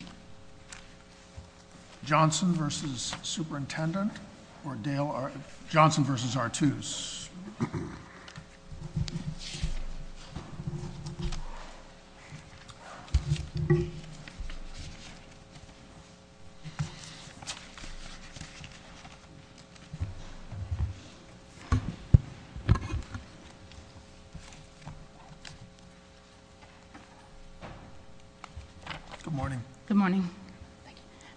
Good morning, guys. Johnson vs. Superintendent. Johnson vs. Attues. Good morning. Good morning.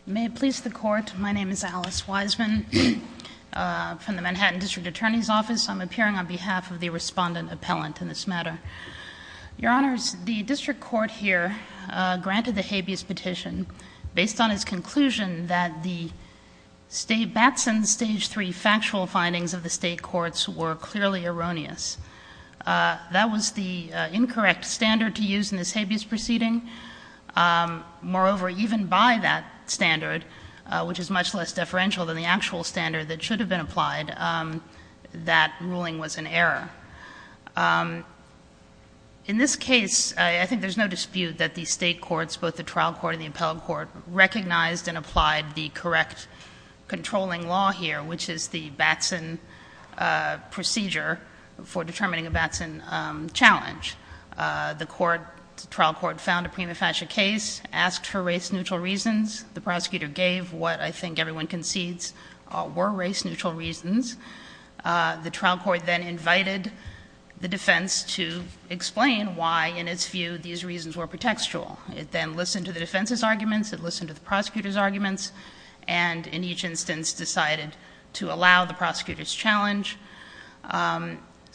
May it please the court, my name is Alice Wiseman from the Manhattan District Attorney's Office. I'm appearing on behalf of the Respondent Appellant in this matter. Your Honors, the district court here granted the habeas petition based on its conclusion that the Batson Stage 3 factual findings of the State courts were clearly erroneous. That was the incorrect standard to use in this habeas proceeding. Moreover, even by that standard, which is much less deferential than the actual standard that should have been applied, that ruling was an error. In this case, I think there's no dispute that the State courts, both the trial court and the appellate court, recognized and applied the correct controlling law here, which is the Batson procedure for determining a Batson challenge. The trial court found a prima facie case, asked for race-neutral reasons. The prosecutor gave what I think everyone concedes were race-neutral reasons. The trial court then invited the defense to explain why, in its view, these reasons were pretextual. It then listened to the defense's arguments, it listened to the prosecutor's arguments, and in each instance decided to allow the prosecutor's challenge.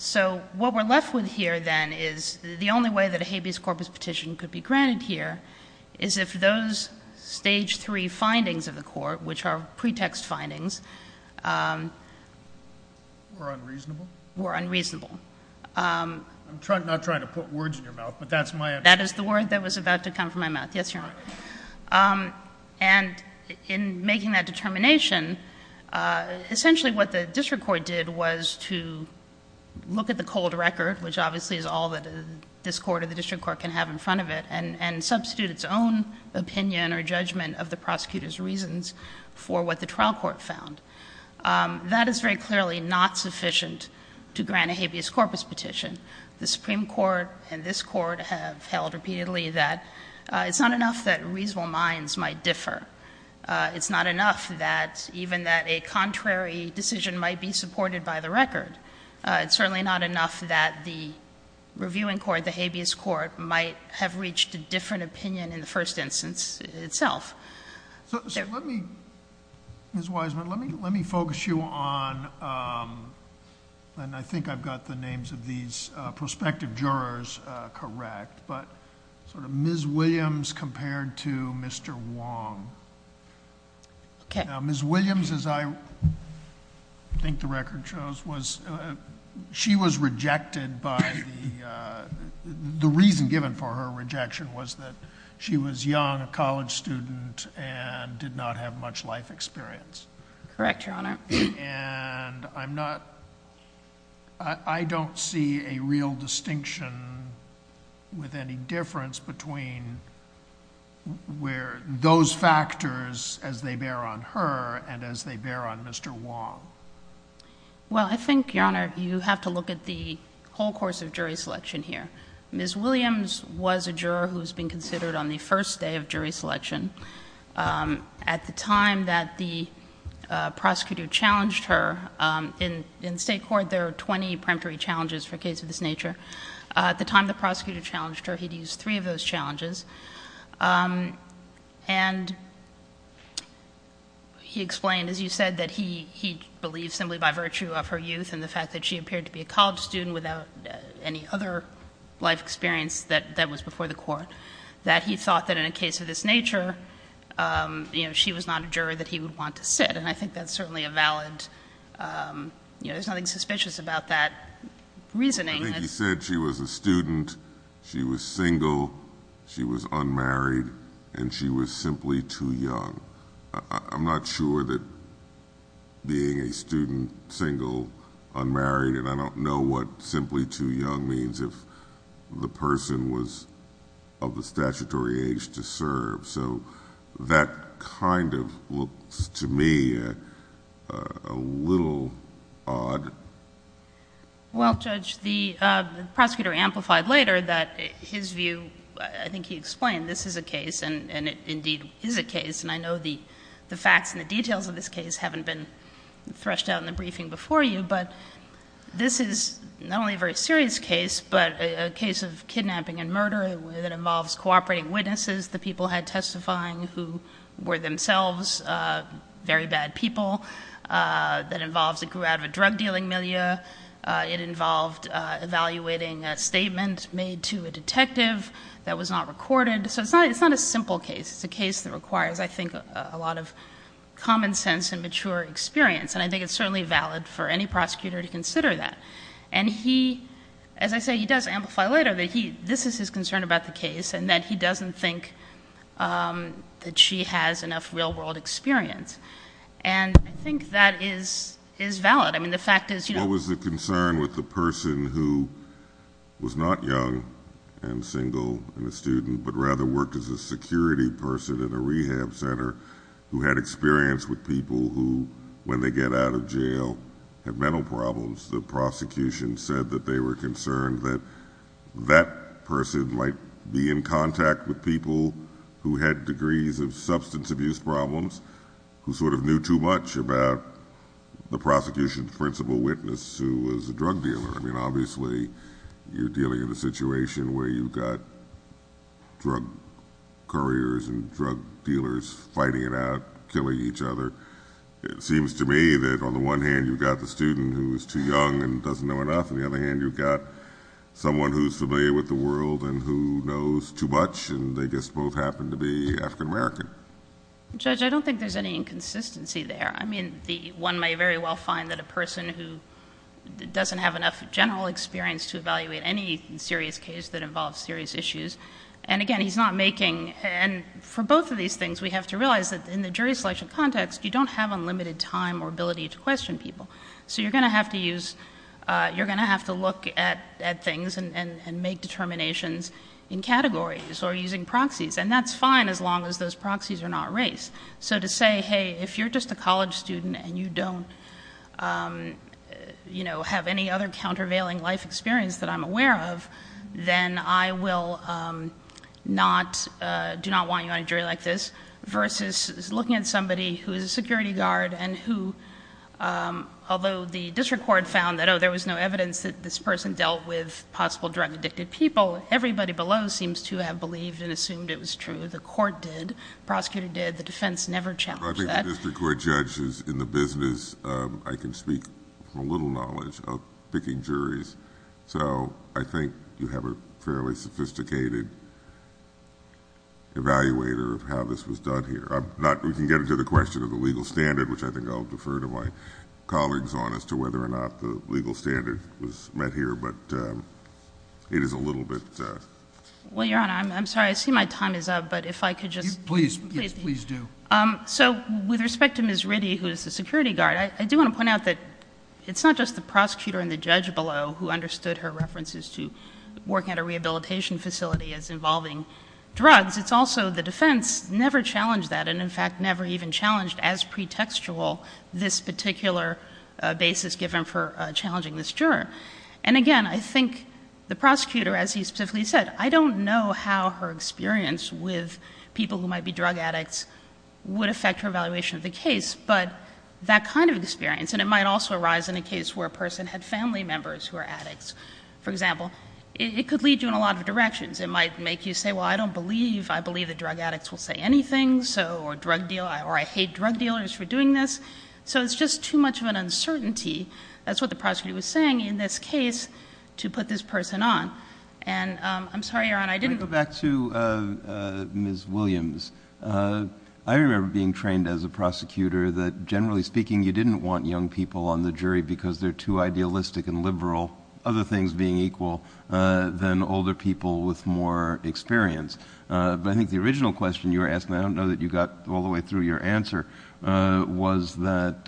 So what we're left with here, then, is the only way that a habeas corpus petition could be granted here, is if those stage three findings of the court, which are pretext findings, were unreasonable. I'm not trying to put words in your mouth, but that's my understanding. That is the word that was about to come from my mouth. Yes, Your Honor. And in making that determination, essentially what the district court did was to look at the cold record, which obviously is all that this court or the district court can have in front of it, and substitute its own opinion or judgment of the prosecutor's reasons for what the trial court found. That is very clearly not sufficient to grant a habeas corpus petition. The Supreme Court and this Court have held repeatedly that it's not enough that reasonable minds might differ. It's not enough that even that a contrary decision might be supported by the record. It's certainly not enough that the reviewing court, the habeas court, might have reached a different opinion in the first instance itself. So let me, Ms. Wiseman, let me focus you on, and I think I've got the names of these prospective jurors correct, but sort of Ms. Williams compared to Mr. Wong. Okay. Ms. Williams, as I think the record shows, was, she was rejected by the, the reason given for her rejection was that she was young, a college student, and did not have much life experience. Correct, Your Honor. And I'm not, I don't see a real distinction with any difference between where those factors as they bear on her and as they bear on Mr. Wong. Well, I think, Your Honor, you have to look at the whole course of jury selection here. Ms. Williams was a juror who's been considered on the first day of jury selection. At the time that the prosecutor challenged her, in, in state court there are 20 preemptory challenges for cases of this nature. At the time the prosecutor challenged her, he'd used three of those challenges. And he explained, as you said, that he, he believed simply by virtue of her youth and the fact that she appeared to be a college student without any other life experience that, that was before the court, that he thought that in a case of this nature, you know, she was not a juror that he would want to sit. And I think that's certainly a valid, you know, there's nothing suspicious about that reasoning. I think he said she was a student, she was single, she was unmarried, and she was simply too young. I'm not sure that being a student, single, unmarried, and I don't know what simply too young means if the person was of the statutory age to serve. So that kind of looks to me a little odd. Well, Judge, the prosecutor amplified later that his view, I think he explained this is a case, and it indeed is a case, and I know the facts and the details of this case haven't been threshed out in the briefing before you. But this is not only a very serious case, but a case of kidnapping and murder that involves cooperating witnesses, the people had testifying who were themselves very bad people. It grew out of a drug-dealing milieu. It involved evaluating a statement made to a detective that was not recorded. So it's not a simple case. It's a case that requires, I think, a lot of common sense and mature experience. And I think it's certainly valid for any prosecutor to consider that. And he, as I say, he does amplify later that this is his concern about the case and that he doesn't think that she has enough real-world experience. And I think that is valid. I mean, the fact is— What was the concern with the person who was not young and single and a student but rather worked as a security person in a rehab center who had experience with people who, when they get out of jail, have mental problems, the prosecution said that they were concerned that that person might be in contact with people who had degrees of substance abuse problems who sort of knew too much about the prosecution's principal witness, who was a drug dealer. I mean, obviously, you're dealing in a situation where you've got drug couriers and drug dealers fighting it out, killing each other. It seems to me that, on the one hand, you've got the student who is too young and doesn't know enough. On the other hand, you've got someone who's familiar with the world and who knows too much, and they just both happen to be African American. Judge, I don't think there's any inconsistency there. I mean, one may very well find that a person who doesn't have enough general experience to evaluate any serious case that involves serious issues—and again, he's not making— and for both of these things, we have to realize that in the jury selection context, you don't have unlimited time or ability to question people. So you're going to have to use—you're going to have to look at things and make determinations in categories or using proxies. And that's fine as long as those proxies are not race. So to say, hey, if you're just a college student and you don't have any other countervailing life experience that I'm aware of, then I will not—do not want you on a jury like this, versus looking at somebody who is a security guard and who, although the district court found that, oh, there was no evidence that this person dealt with possible drug-addicted people, although everybody below seems to have believed and assumed it was true. The court did. The prosecutor did. The defense never challenged that. Well, I think the district court judge is in the business— I can speak from a little knowledge of picking juries. So I think you have a fairly sophisticated evaluator of how this was done here. I'm not—we can get into the question of the legal standard, which I think I'll defer to my colleagues on as to whether or not the legal standard was met here, but it is a little bit— Well, Your Honor, I'm sorry. I see my time is up, but if I could just— Please. Yes, please do. So with respect to Ms. Ritty, who is the security guard, I do want to point out that it's not just the prosecutor and the judge below who understood her references to working at a rehabilitation facility as involving drugs. It's also the defense never challenged that, and in fact never even challenged as pretextual this particular basis given for challenging this juror. And again, I think the prosecutor, as he specifically said, I don't know how her experience with people who might be drug addicts would affect her evaluation of the case, but that kind of experience, and it might also arise in a case where a person had family members who are addicts, for example, it could lead you in a lot of directions. It might make you say, well, I don't believe—I believe that drug addicts will say anything, or I hate drug dealers for doing this. So it's just too much of an uncertainty. That's what the prosecutor was saying in this case to put this person on. And I'm sorry, Your Honor, I didn't— Let me go back to Ms. Williams. I remember being trained as a prosecutor that, generally speaking, you didn't want young people on the jury because they're too idealistic and liberal, other things being equal, than older people with more experience. But I think the original question you were asking, I don't know that you got all the way through your answer, was that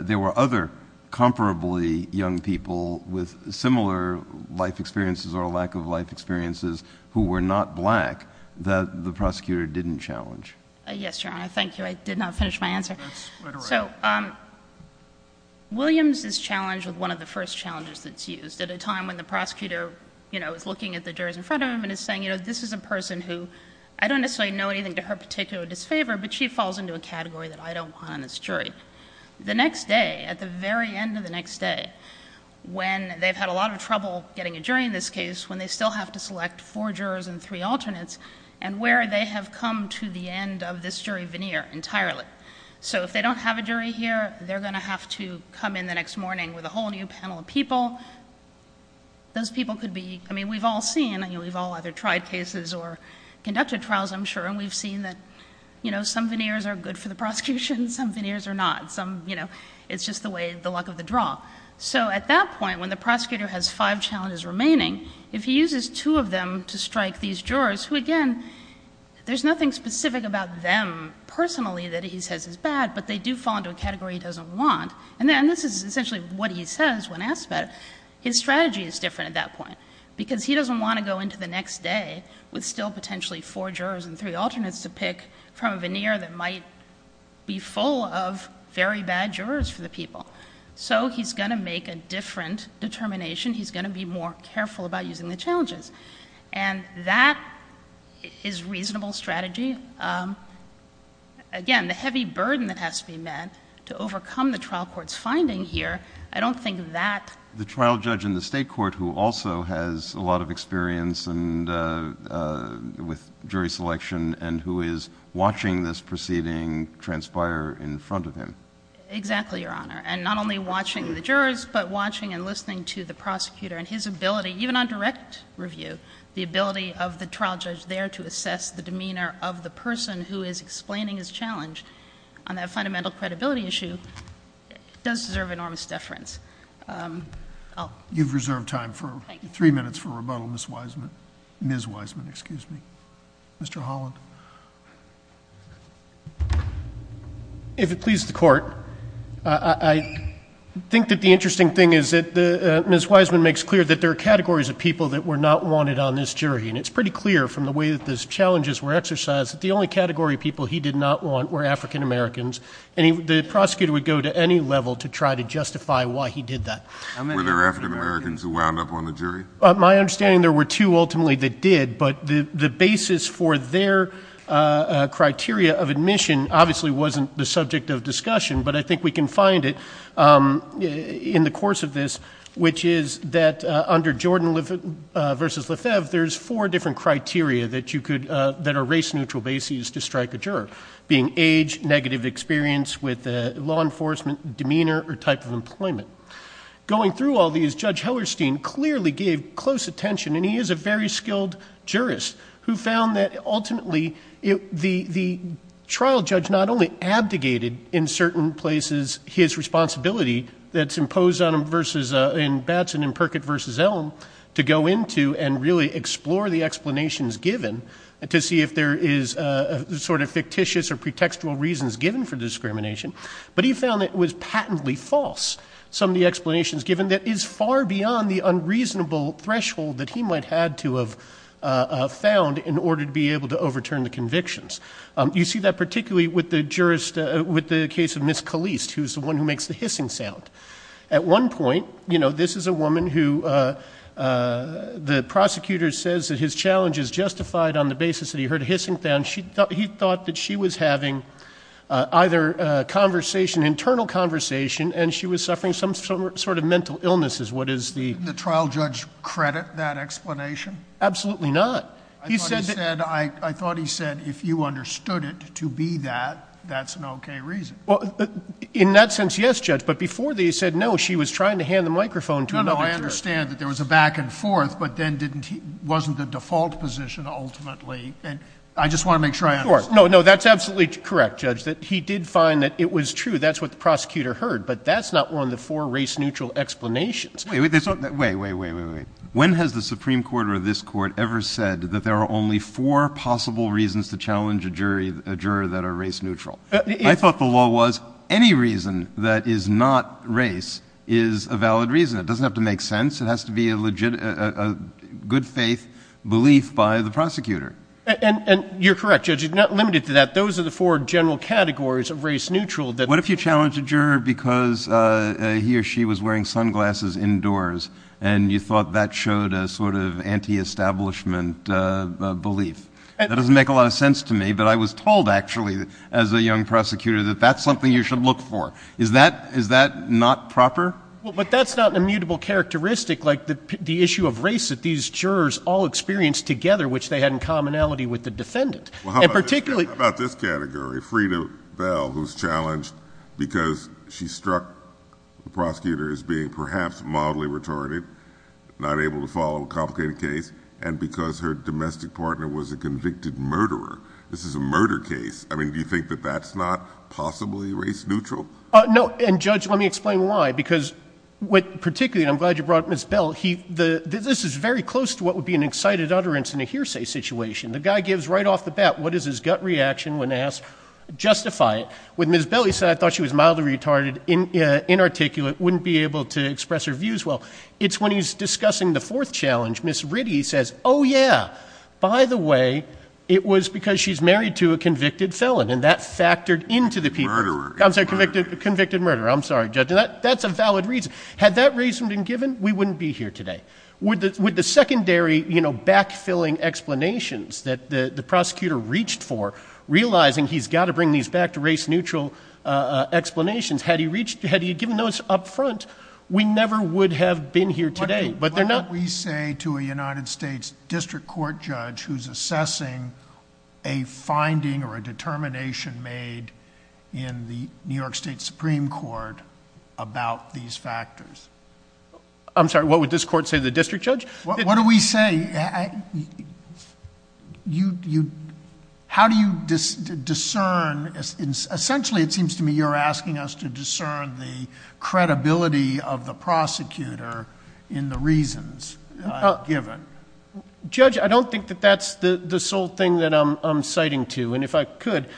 there were other comparably young people with similar life experiences or lack of life experiences who were not black that the prosecutor didn't challenge. Yes, Your Honor, thank you. I did not finish my answer. That's right around. So Williams is challenged with one of the first challenges that's used at a time when the prosecutor, you know, is looking at the jurors in front of him and is saying, you know, this is a person who I don't necessarily know anything to her particular disfavor, but she falls into a category that I don't want on this jury. The next day, at the very end of the next day, when they've had a lot of trouble getting a jury in this case, when they still have to select four jurors and three alternates and where they have come to the end of this jury veneer entirely. So if they don't have a jury here, they're going to have to come in the next morning with a whole new panel of people. Those people could be, I mean, we've all seen, we've all either tried cases or conducted trials, I'm sure, and we've seen that, you know, some veneers are good for the prosecution, some veneers are not. Some, you know, it's just the way, the luck of the draw. So at that point, when the prosecutor has five challenges remaining, if he uses two of them to strike these jurors, who, again, there's nothing specific about them personally that he says is bad, but they do fall into a category he doesn't want. And this is essentially what he says when asked about it. His strategy is different at that point, because he doesn't want to go into the next day with still potentially four jurors and three alternates to pick from a veneer that might be full of very bad jurors for the people. So he's going to make a different determination. He's going to be more careful about using the challenges. And that is reasonable strategy. Again, the heavy burden that has to be met to overcome the trial court's finding here, I don't think that. The trial judge in the state court who also has a lot of experience with jury selection and who is watching this proceeding transpire in front of him. Exactly, Your Honor. And not only watching the jurors, but watching and listening to the prosecutor and his ability, even on direct review, the ability of the trial judge there to assess the demeanor of the person who is explaining his challenge on that fundamental credibility issue does deserve enormous deference. You've reserved time for three minutes for rebuttal, Ms. Wiseman. Ms. Wiseman, excuse me. Mr. Holland. If it pleases the Court, I think that the interesting thing is that Ms. Wiseman makes clear that there are categories of people that were not wanted on this jury. And it's pretty clear from the way that the challenges were exercised that the only category of people he did not want were African Americans, and the prosecutor would go to any level to try to justify why he did that. Were there African Americans who wound up on the jury? My understanding is there were two ultimately that did, but the basis for their criteria of admission obviously wasn't the subject of discussion, but I think we can find it in the course of this, which is that under Jordan v. Lefebvre, there's four different criteria that are race-neutral bases to strike a juror, being age, negative experience with law enforcement, demeanor, or type of employment. Going through all these, Judge Hellerstein clearly gave close attention, and he is a very skilled jurist who found that ultimately the trial judge not only abdicated in certain places his responsibility that's imposed on him in Batson and Perkett v. Elm to go into and really explore the explanations given to see if there is sort of fictitious or pretextual reasons given for discrimination, but he found that it was patently false, some of the explanations given, that is far beyond the unreasonable threshold that he might have had to have found in order to be able to overturn the convictions. You see that particularly with the case of Ms. Caliste, who's the one who makes the hissing sound. At one point, you know, this is a woman who the prosecutor says that his challenge is justified on the basis that he heard a hissing sound. He thought that she was having either conversation, internal conversation, and she was suffering some sort of mental illnesses. What is the – Didn't the trial judge credit that explanation? Absolutely not. I thought he said if you understood it to be that, that's an okay reason. Well, in that sense, yes, Judge, but before they said no, she was trying to hand the microphone to another juror. No, no, I understand that there was a back and forth, but then wasn't the default position ultimately, and I just want to make sure I understand. No, no, that's absolutely correct, Judge, that he did find that it was true, that's what the prosecutor heard, but that's not one of the four race-neutral explanations. Wait, wait, wait, wait, wait, wait. When has the Supreme Court or this Court ever said that there are only four possible reasons to challenge a juror that are race-neutral? I thought the law was any reason that is not race is a valid reason. It doesn't have to make sense. It has to be a good-faith belief by the prosecutor. And you're correct, Judge, you're not limited to that. Those are the four general categories of race-neutral. What if you challenged a juror because he or she was wearing sunglasses indoors and you thought that showed a sort of anti-establishment belief? That doesn't make a lot of sense to me, but I was told, actually, as a young prosecutor, that that's something you should look for. Is that not proper? But that's not an immutable characteristic like the issue of race that these jurors all experienced together, which they had in commonality with the defendant. How about this category, Freda Bell, who's challenged because she struck the prosecutor as being perhaps mildly retarded, not able to follow a complicated case, and because her domestic partner was a convicted murderer? This is a murder case. I mean, do you think that that's not possibly race-neutral? No, and, Judge, let me explain why, because particularly, and I'm glad you brought up Ms. Bell, this is very close to what would be an excited utterance in a hearsay situation. The guy gives right off the bat, what is his gut reaction when asked, justify it. With Ms. Bell, he said, I thought she was mildly retarded, inarticulate, wouldn't be able to express her views well. It's when he's discussing the fourth challenge. Ms. Ritty says, oh, yeah, by the way, it was because she's married to a convicted felon, and that factored into the people. Murderer. I'm sorry, convicted murderer. I'm sorry, Judge. That's a valid reason. Had that reason been given, we wouldn't be here today. With the secondary, you know, back-filling explanations that the prosecutor reached for, realizing he's got to bring these back to race-neutral explanations, had he given those up front, we never would have been here today. But they're not... What would we say to a United States district court judge who's assessing a finding or a determination made in the New York State Supreme Court about these factors? I'm sorry, what would this court say to the district judge? What do we say? How do you discern? Essentially, it seems to me you're asking us to discern the credibility of the prosecutor in the reasons given. Judge, I don't think that that's the sole thing that I'm citing to. And if I could,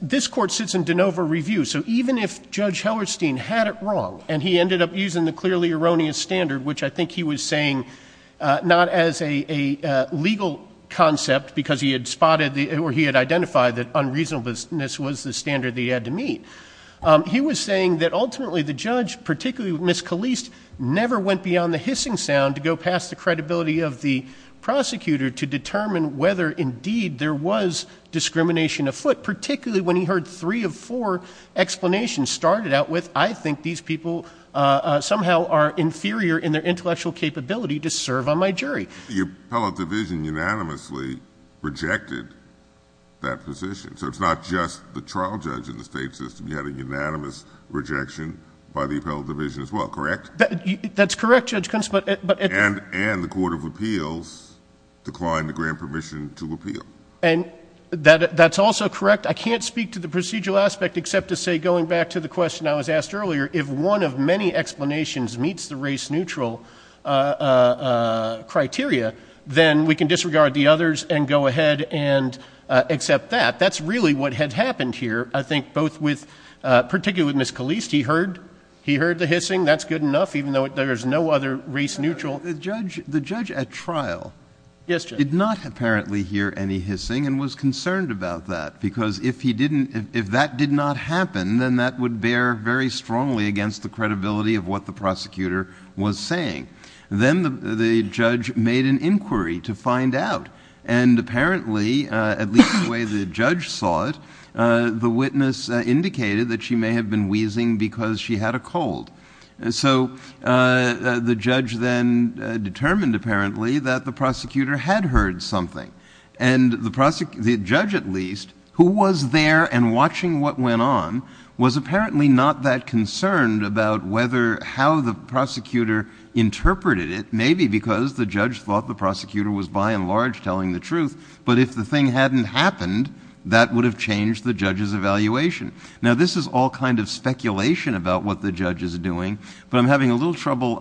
this court sits in de novo review. So even if Judge Hellerstein had it wrong and he ended up using the clearly erroneous standard, which I think he was saying not as a legal concept because he had spotted or he had identified that unreasonableness was the standard that he had to meet, he was saying that ultimately the judge, particularly Ms. Caliste, never went beyond the hissing sound to go past the credibility of the prosecutor to determine whether indeed there was discrimination afoot, particularly when he heard three of four explanations started out with, I think these people somehow are inferior in their intellectual capability to serve on my jury. The appellate division unanimously rejected that position. So it's not just the trial judge in the state system. You had a unanimous rejection by the appellate division as well, correct? That's correct, Judge Kuntz. And the court of appeals declined to grant permission to appeal. And that's also correct. I can't speak to the procedural aspect except to say, going back to the question I was asked earlier, if one of many explanations meets the race-neutral criteria, then we can disregard the others and go ahead and accept that. That's really what had happened here, I think, particularly with Ms. Caliste. He heard the hissing. That's good enough, even though there is no other race-neutral. The judge at trial did not apparently hear any hissing and was concerned about that because if he didn't, if that did not happen, then that would bear very strongly against the credibility of what the prosecutor was saying. Then the judge made an inquiry to find out. And apparently, at least the way the judge saw it, the witness indicated that she may have been wheezing because she had a cold. So the judge then determined apparently that the prosecutor had heard something. And the judge, at least, who was there and watching what went on, was apparently not that concerned about how the prosecutor interpreted it, maybe because the judge thought the prosecutor was by and large telling the truth, but if the thing hadn't happened, that would have changed the judge's evaluation. Now, this is all kind of speculation about what the judge is doing, but I'm having a little trouble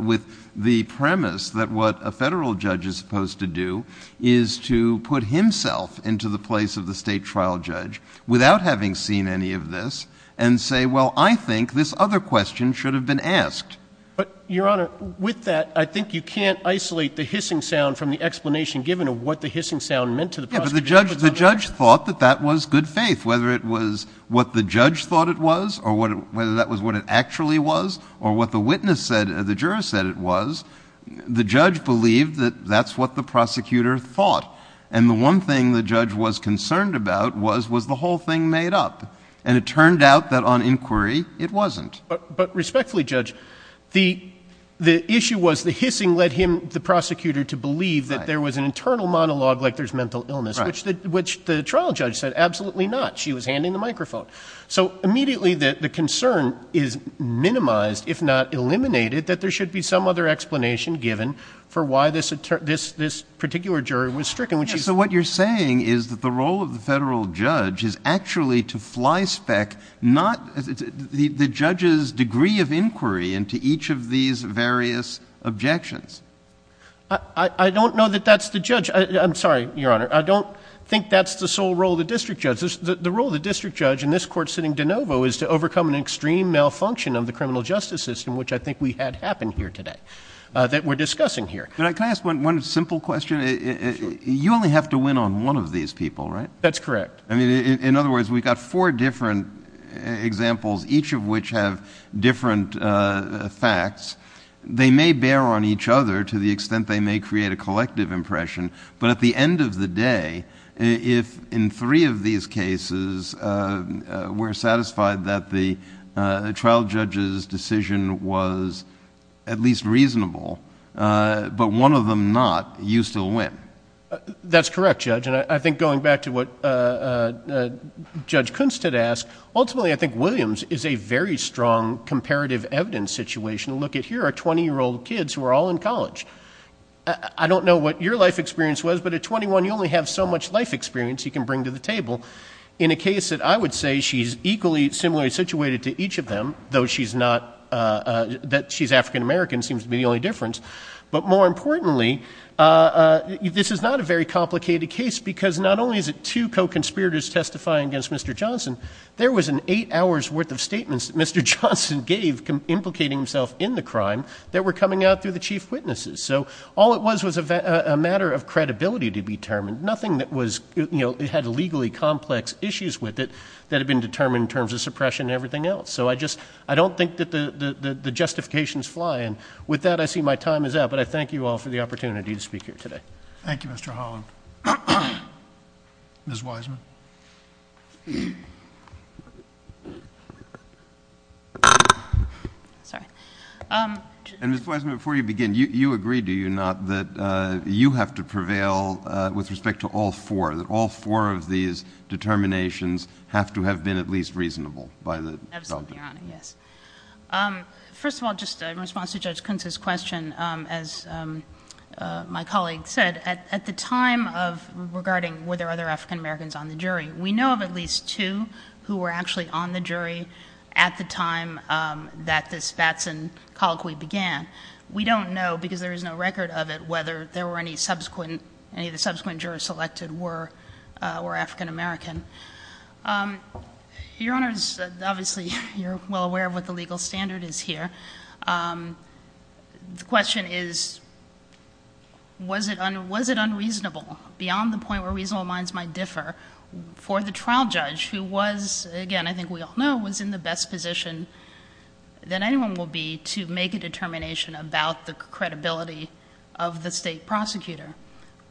with the premise that what a federal judge is supposed to do is to put himself into the place of the state trial judge without having seen any of this and say, well, I think this other question should have been asked. But, Your Honor, with that, I think you can't isolate the hissing sound from the explanation given of what the hissing sound meant to the prosecutor. Yeah, but the judge thought that that was good faith, whether it was what the judge thought it was or whether that was what it actually was or what the witness said or the juror said it was. The judge believed that that's what the prosecutor thought, and the one thing the judge was concerned about was was the whole thing made up, and it turned out that on inquiry it wasn't. But respectfully, Judge, the issue was the hissing led him, the prosecutor, to believe that there was an internal monologue like there's mental illness, which the trial judge said absolutely not. She was handing the microphone. So immediately the concern is minimized, if not eliminated, that there should be some other explanation given for why this particular juror was stricken. So what you're saying is that the role of the federal judge is actually to fly spec not the judge's degree of inquiry into each of these various objections. I don't know that that's the judge. I'm sorry, Your Honor. I don't think that's the sole role of the district judge. The role of the district judge in this court sitting de novo is to overcome an extreme malfunction of the criminal justice system, which I think we had happen here today, that we're discussing here. Can I ask one simple question? You only have to win on one of these people, right? That's correct. In other words, we've got four different examples, each of which have different facts. They may bear on each other to the extent they may create a collective impression, but at the end of the day, if in three of these cases we're satisfied that the trial judge's decision was at least reasonable, but one of them not, you still win. That's correct, Judge. I think going back to what Judge Kunst had asked, ultimately I think Williams is a very strong comparative evidence situation. Look, here are 20-year-old kids who are all in college. I don't know what your life experience was, but at 21 you only have so much life experience you can bring to the table. In a case that I would say she's equally similarly situated to each of them, though she's African-American seems to be the only difference. But more importantly, this is not a very complicated case because not only is it two co-conspirators testifying against Mr. Johnson, there was an eight hours' worth of statements that Mr. Johnson gave implicating himself in the crime that were coming out through the chief witnesses. So all it was was a matter of credibility to be determined. It had legally complex issues with it that had been determined in terms of suppression and everything else. So I just don't think that the justifications fly. And with that, I see my time is up. But I thank you all for the opportunity to speak here today. Thank you, Mr. Holland. Ms. Wiseman. Ms. Wiseman, before you begin, you agreed, do you not, that you have to prevail with respect to all four, that all four of these determinations have to have been at least reasonable by the delegate? Absolutely, Your Honor, yes. First of all, just in response to Judge Kuntz's question, as my colleague said, at the time of regarding were there other African-Americans on the jury, we know of at least two who were actually on the jury at the time that this Vatson colloquy began. We don't know, because there is no record of it, whether any of the subsequent jurors selected were African-American. Your Honor, obviously, you're well aware of what the legal standard is here. The question is, was it unreasonable, beyond the point where reasonable minds might differ, for the trial judge, who was, again, I think we all know, was in the best position that anyone will be to make a determination about the credibility of the state prosecutor,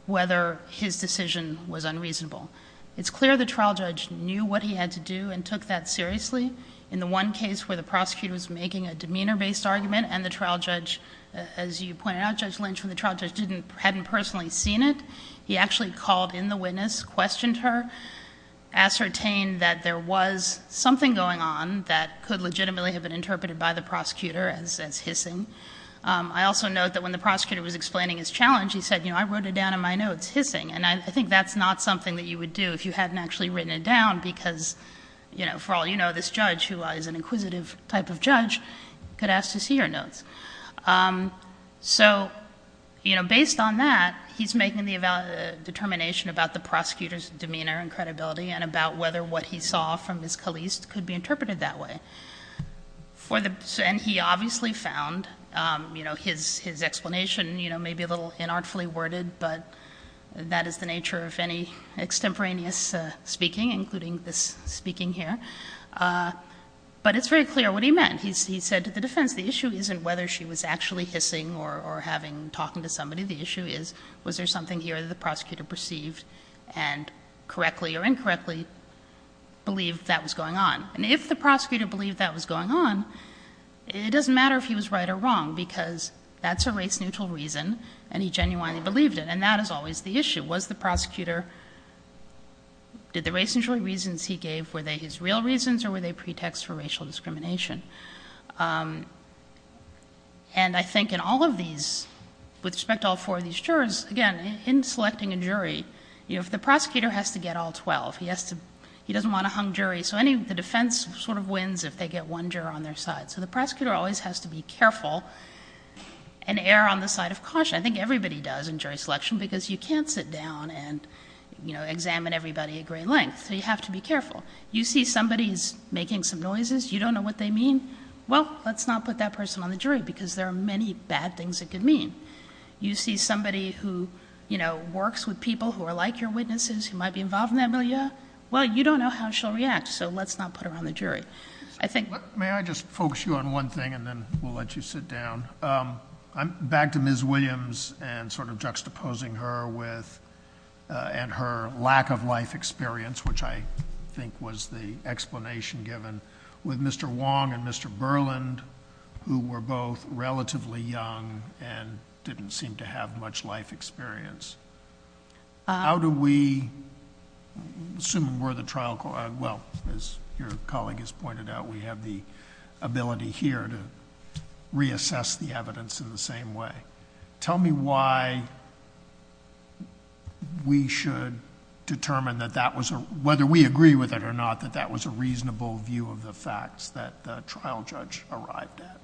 whether his decision was unreasonable. It's clear the trial judge knew what he had to do and took that seriously. In the one case where the prosecutor was making a demeanor-based argument and the trial judge, as you pointed out, Judge Lynch, when the trial judge hadn't personally seen it, he actually called in the witness, questioned her, ascertained that there was something going on that could legitimately have been interpreted by the prosecutor as hissing. I also note that when the prosecutor was explaining his challenge, he said, you know, I wrote it down in my notes, hissing. And I think that's not something that you would do if you hadn't actually written it down, because, you know, for all you know, this judge, who is an inquisitive type of judge, could ask to see your notes. So, you know, based on that, he's making the determination about the prosecutor's demeanor and credibility and about whether what he saw from Ms. Caliste could be interpreted that way. And he obviously found, you know, his explanation, you know, maybe a little inartfully worded, but that is the nature of any extemporaneous speaking, including this speaking here. But it's very clear what he meant. He said to the defense, the issue isn't whether she was actually hissing or talking to somebody. The issue is, was there something here that the prosecutor perceived and correctly or incorrectly believed that was going on? And if the prosecutor believed that was going on, it doesn't matter if he was right or wrong, because that's a race-neutral reason, and he genuinely believed it. And that is always the issue. Was the prosecutor, did the race-neutral reasons he gave, were they his real reasons or were they pretexts for racial discrimination? And I think in all of these, with respect to all four of these jurors, again, in selecting a jury, you know, if the prosecutor has to get all 12, he doesn't want a hung jury, so the defense sort of wins if they get one juror on their side. So the prosecutor always has to be careful and err on the side of caution. I think everybody does in jury selection, because you can't sit down and, you know, examine everybody at great length. So you have to be careful. You see somebody who's making some noises, you don't know what they mean, well, let's not put that person on the jury, because there are many bad things it could mean. You see somebody who, you know, works with people who are like your witnesses, who might be involved in that milieu, well, you don't know how she'll react, so let's not put her on the jury. I think. May I just focus you on one thing and then we'll let you sit down? Back to Ms. Williams and sort of juxtaposing her with and her lack of life experience, which I think was the explanation given, with Mr. Wong and Mr. Berland, who were both relatively young and didn't seem to have much life experience. How do we, assuming we're the trial, well, as your colleague has pointed out, we have the ability here to reassess the evidence in the same way. Tell me why we should determine that that was a, whether we agree with it or not, that that was a reasonable view of the facts that the trial judge arrived at,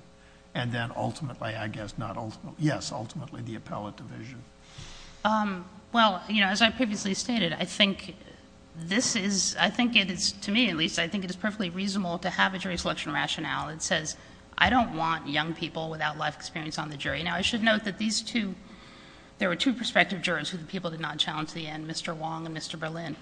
and then ultimately, I guess, not ultimately, yes, ultimately the appellate division. Well, you know, as I previously stated, I think this is, I think it is, to me at least, I think it is perfectly reasonable to have a jury selection rationale that says, I don't want young people without life experience on the jury. Now, I should note that these two, there were two prospective jurors who the people did not challenge at the end, Mr. Wong and Mr. Berland.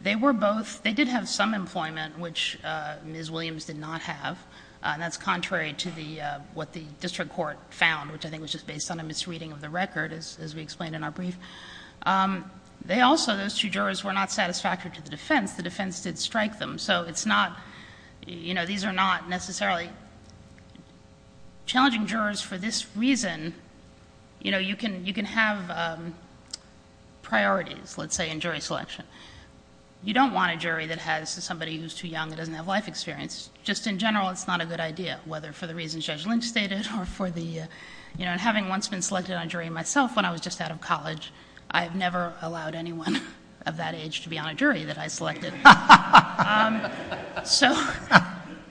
They were both, they did have some employment, which Ms. Williams did not have, and that's contrary to the, what the district court found, which I think was just based on a misreading of the record, as we explained in our brief. They also, those two jurors were not satisfactory to the defense. The defense did strike them. So it's not, you know, these are not necessarily challenging jurors for this reason. You know, you can have priorities, let's say, in jury selection. You don't want a jury that has somebody who is too young and doesn't have life experience. Just in general, it's not a good idea, whether for the reasons Judge Lynch stated or for the, you know, and having once been selected on a jury myself when I was just out of college, I have never allowed anyone of that age to be on a jury that I selected. So.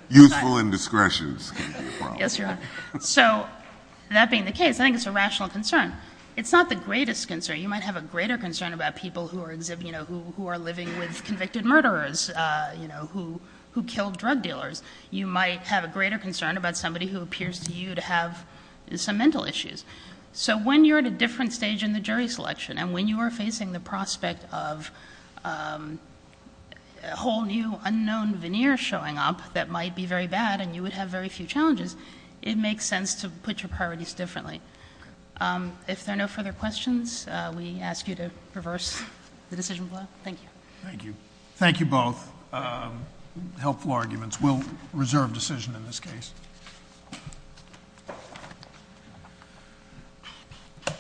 Useful indiscretions can be a problem. Yes, Your Honor. So that being the case, I think it's a rational concern. It's not the greatest concern. You might have a greater concern about people who are, you know, who are living with convicted murderers, you know, who killed drug dealers. You might have a greater concern about somebody who appears to you to have some mental issues. So when you're at a different stage in the jury selection, and when you are facing the prospect of a whole new unknown veneer showing up that might be very bad and you would have very few challenges, it makes sense to put your priorities differently. If there are no further questions, we ask you to reverse the decision. Thank you. Thank you. Thank you both. Helpful arguments. We'll reserve decision in this case.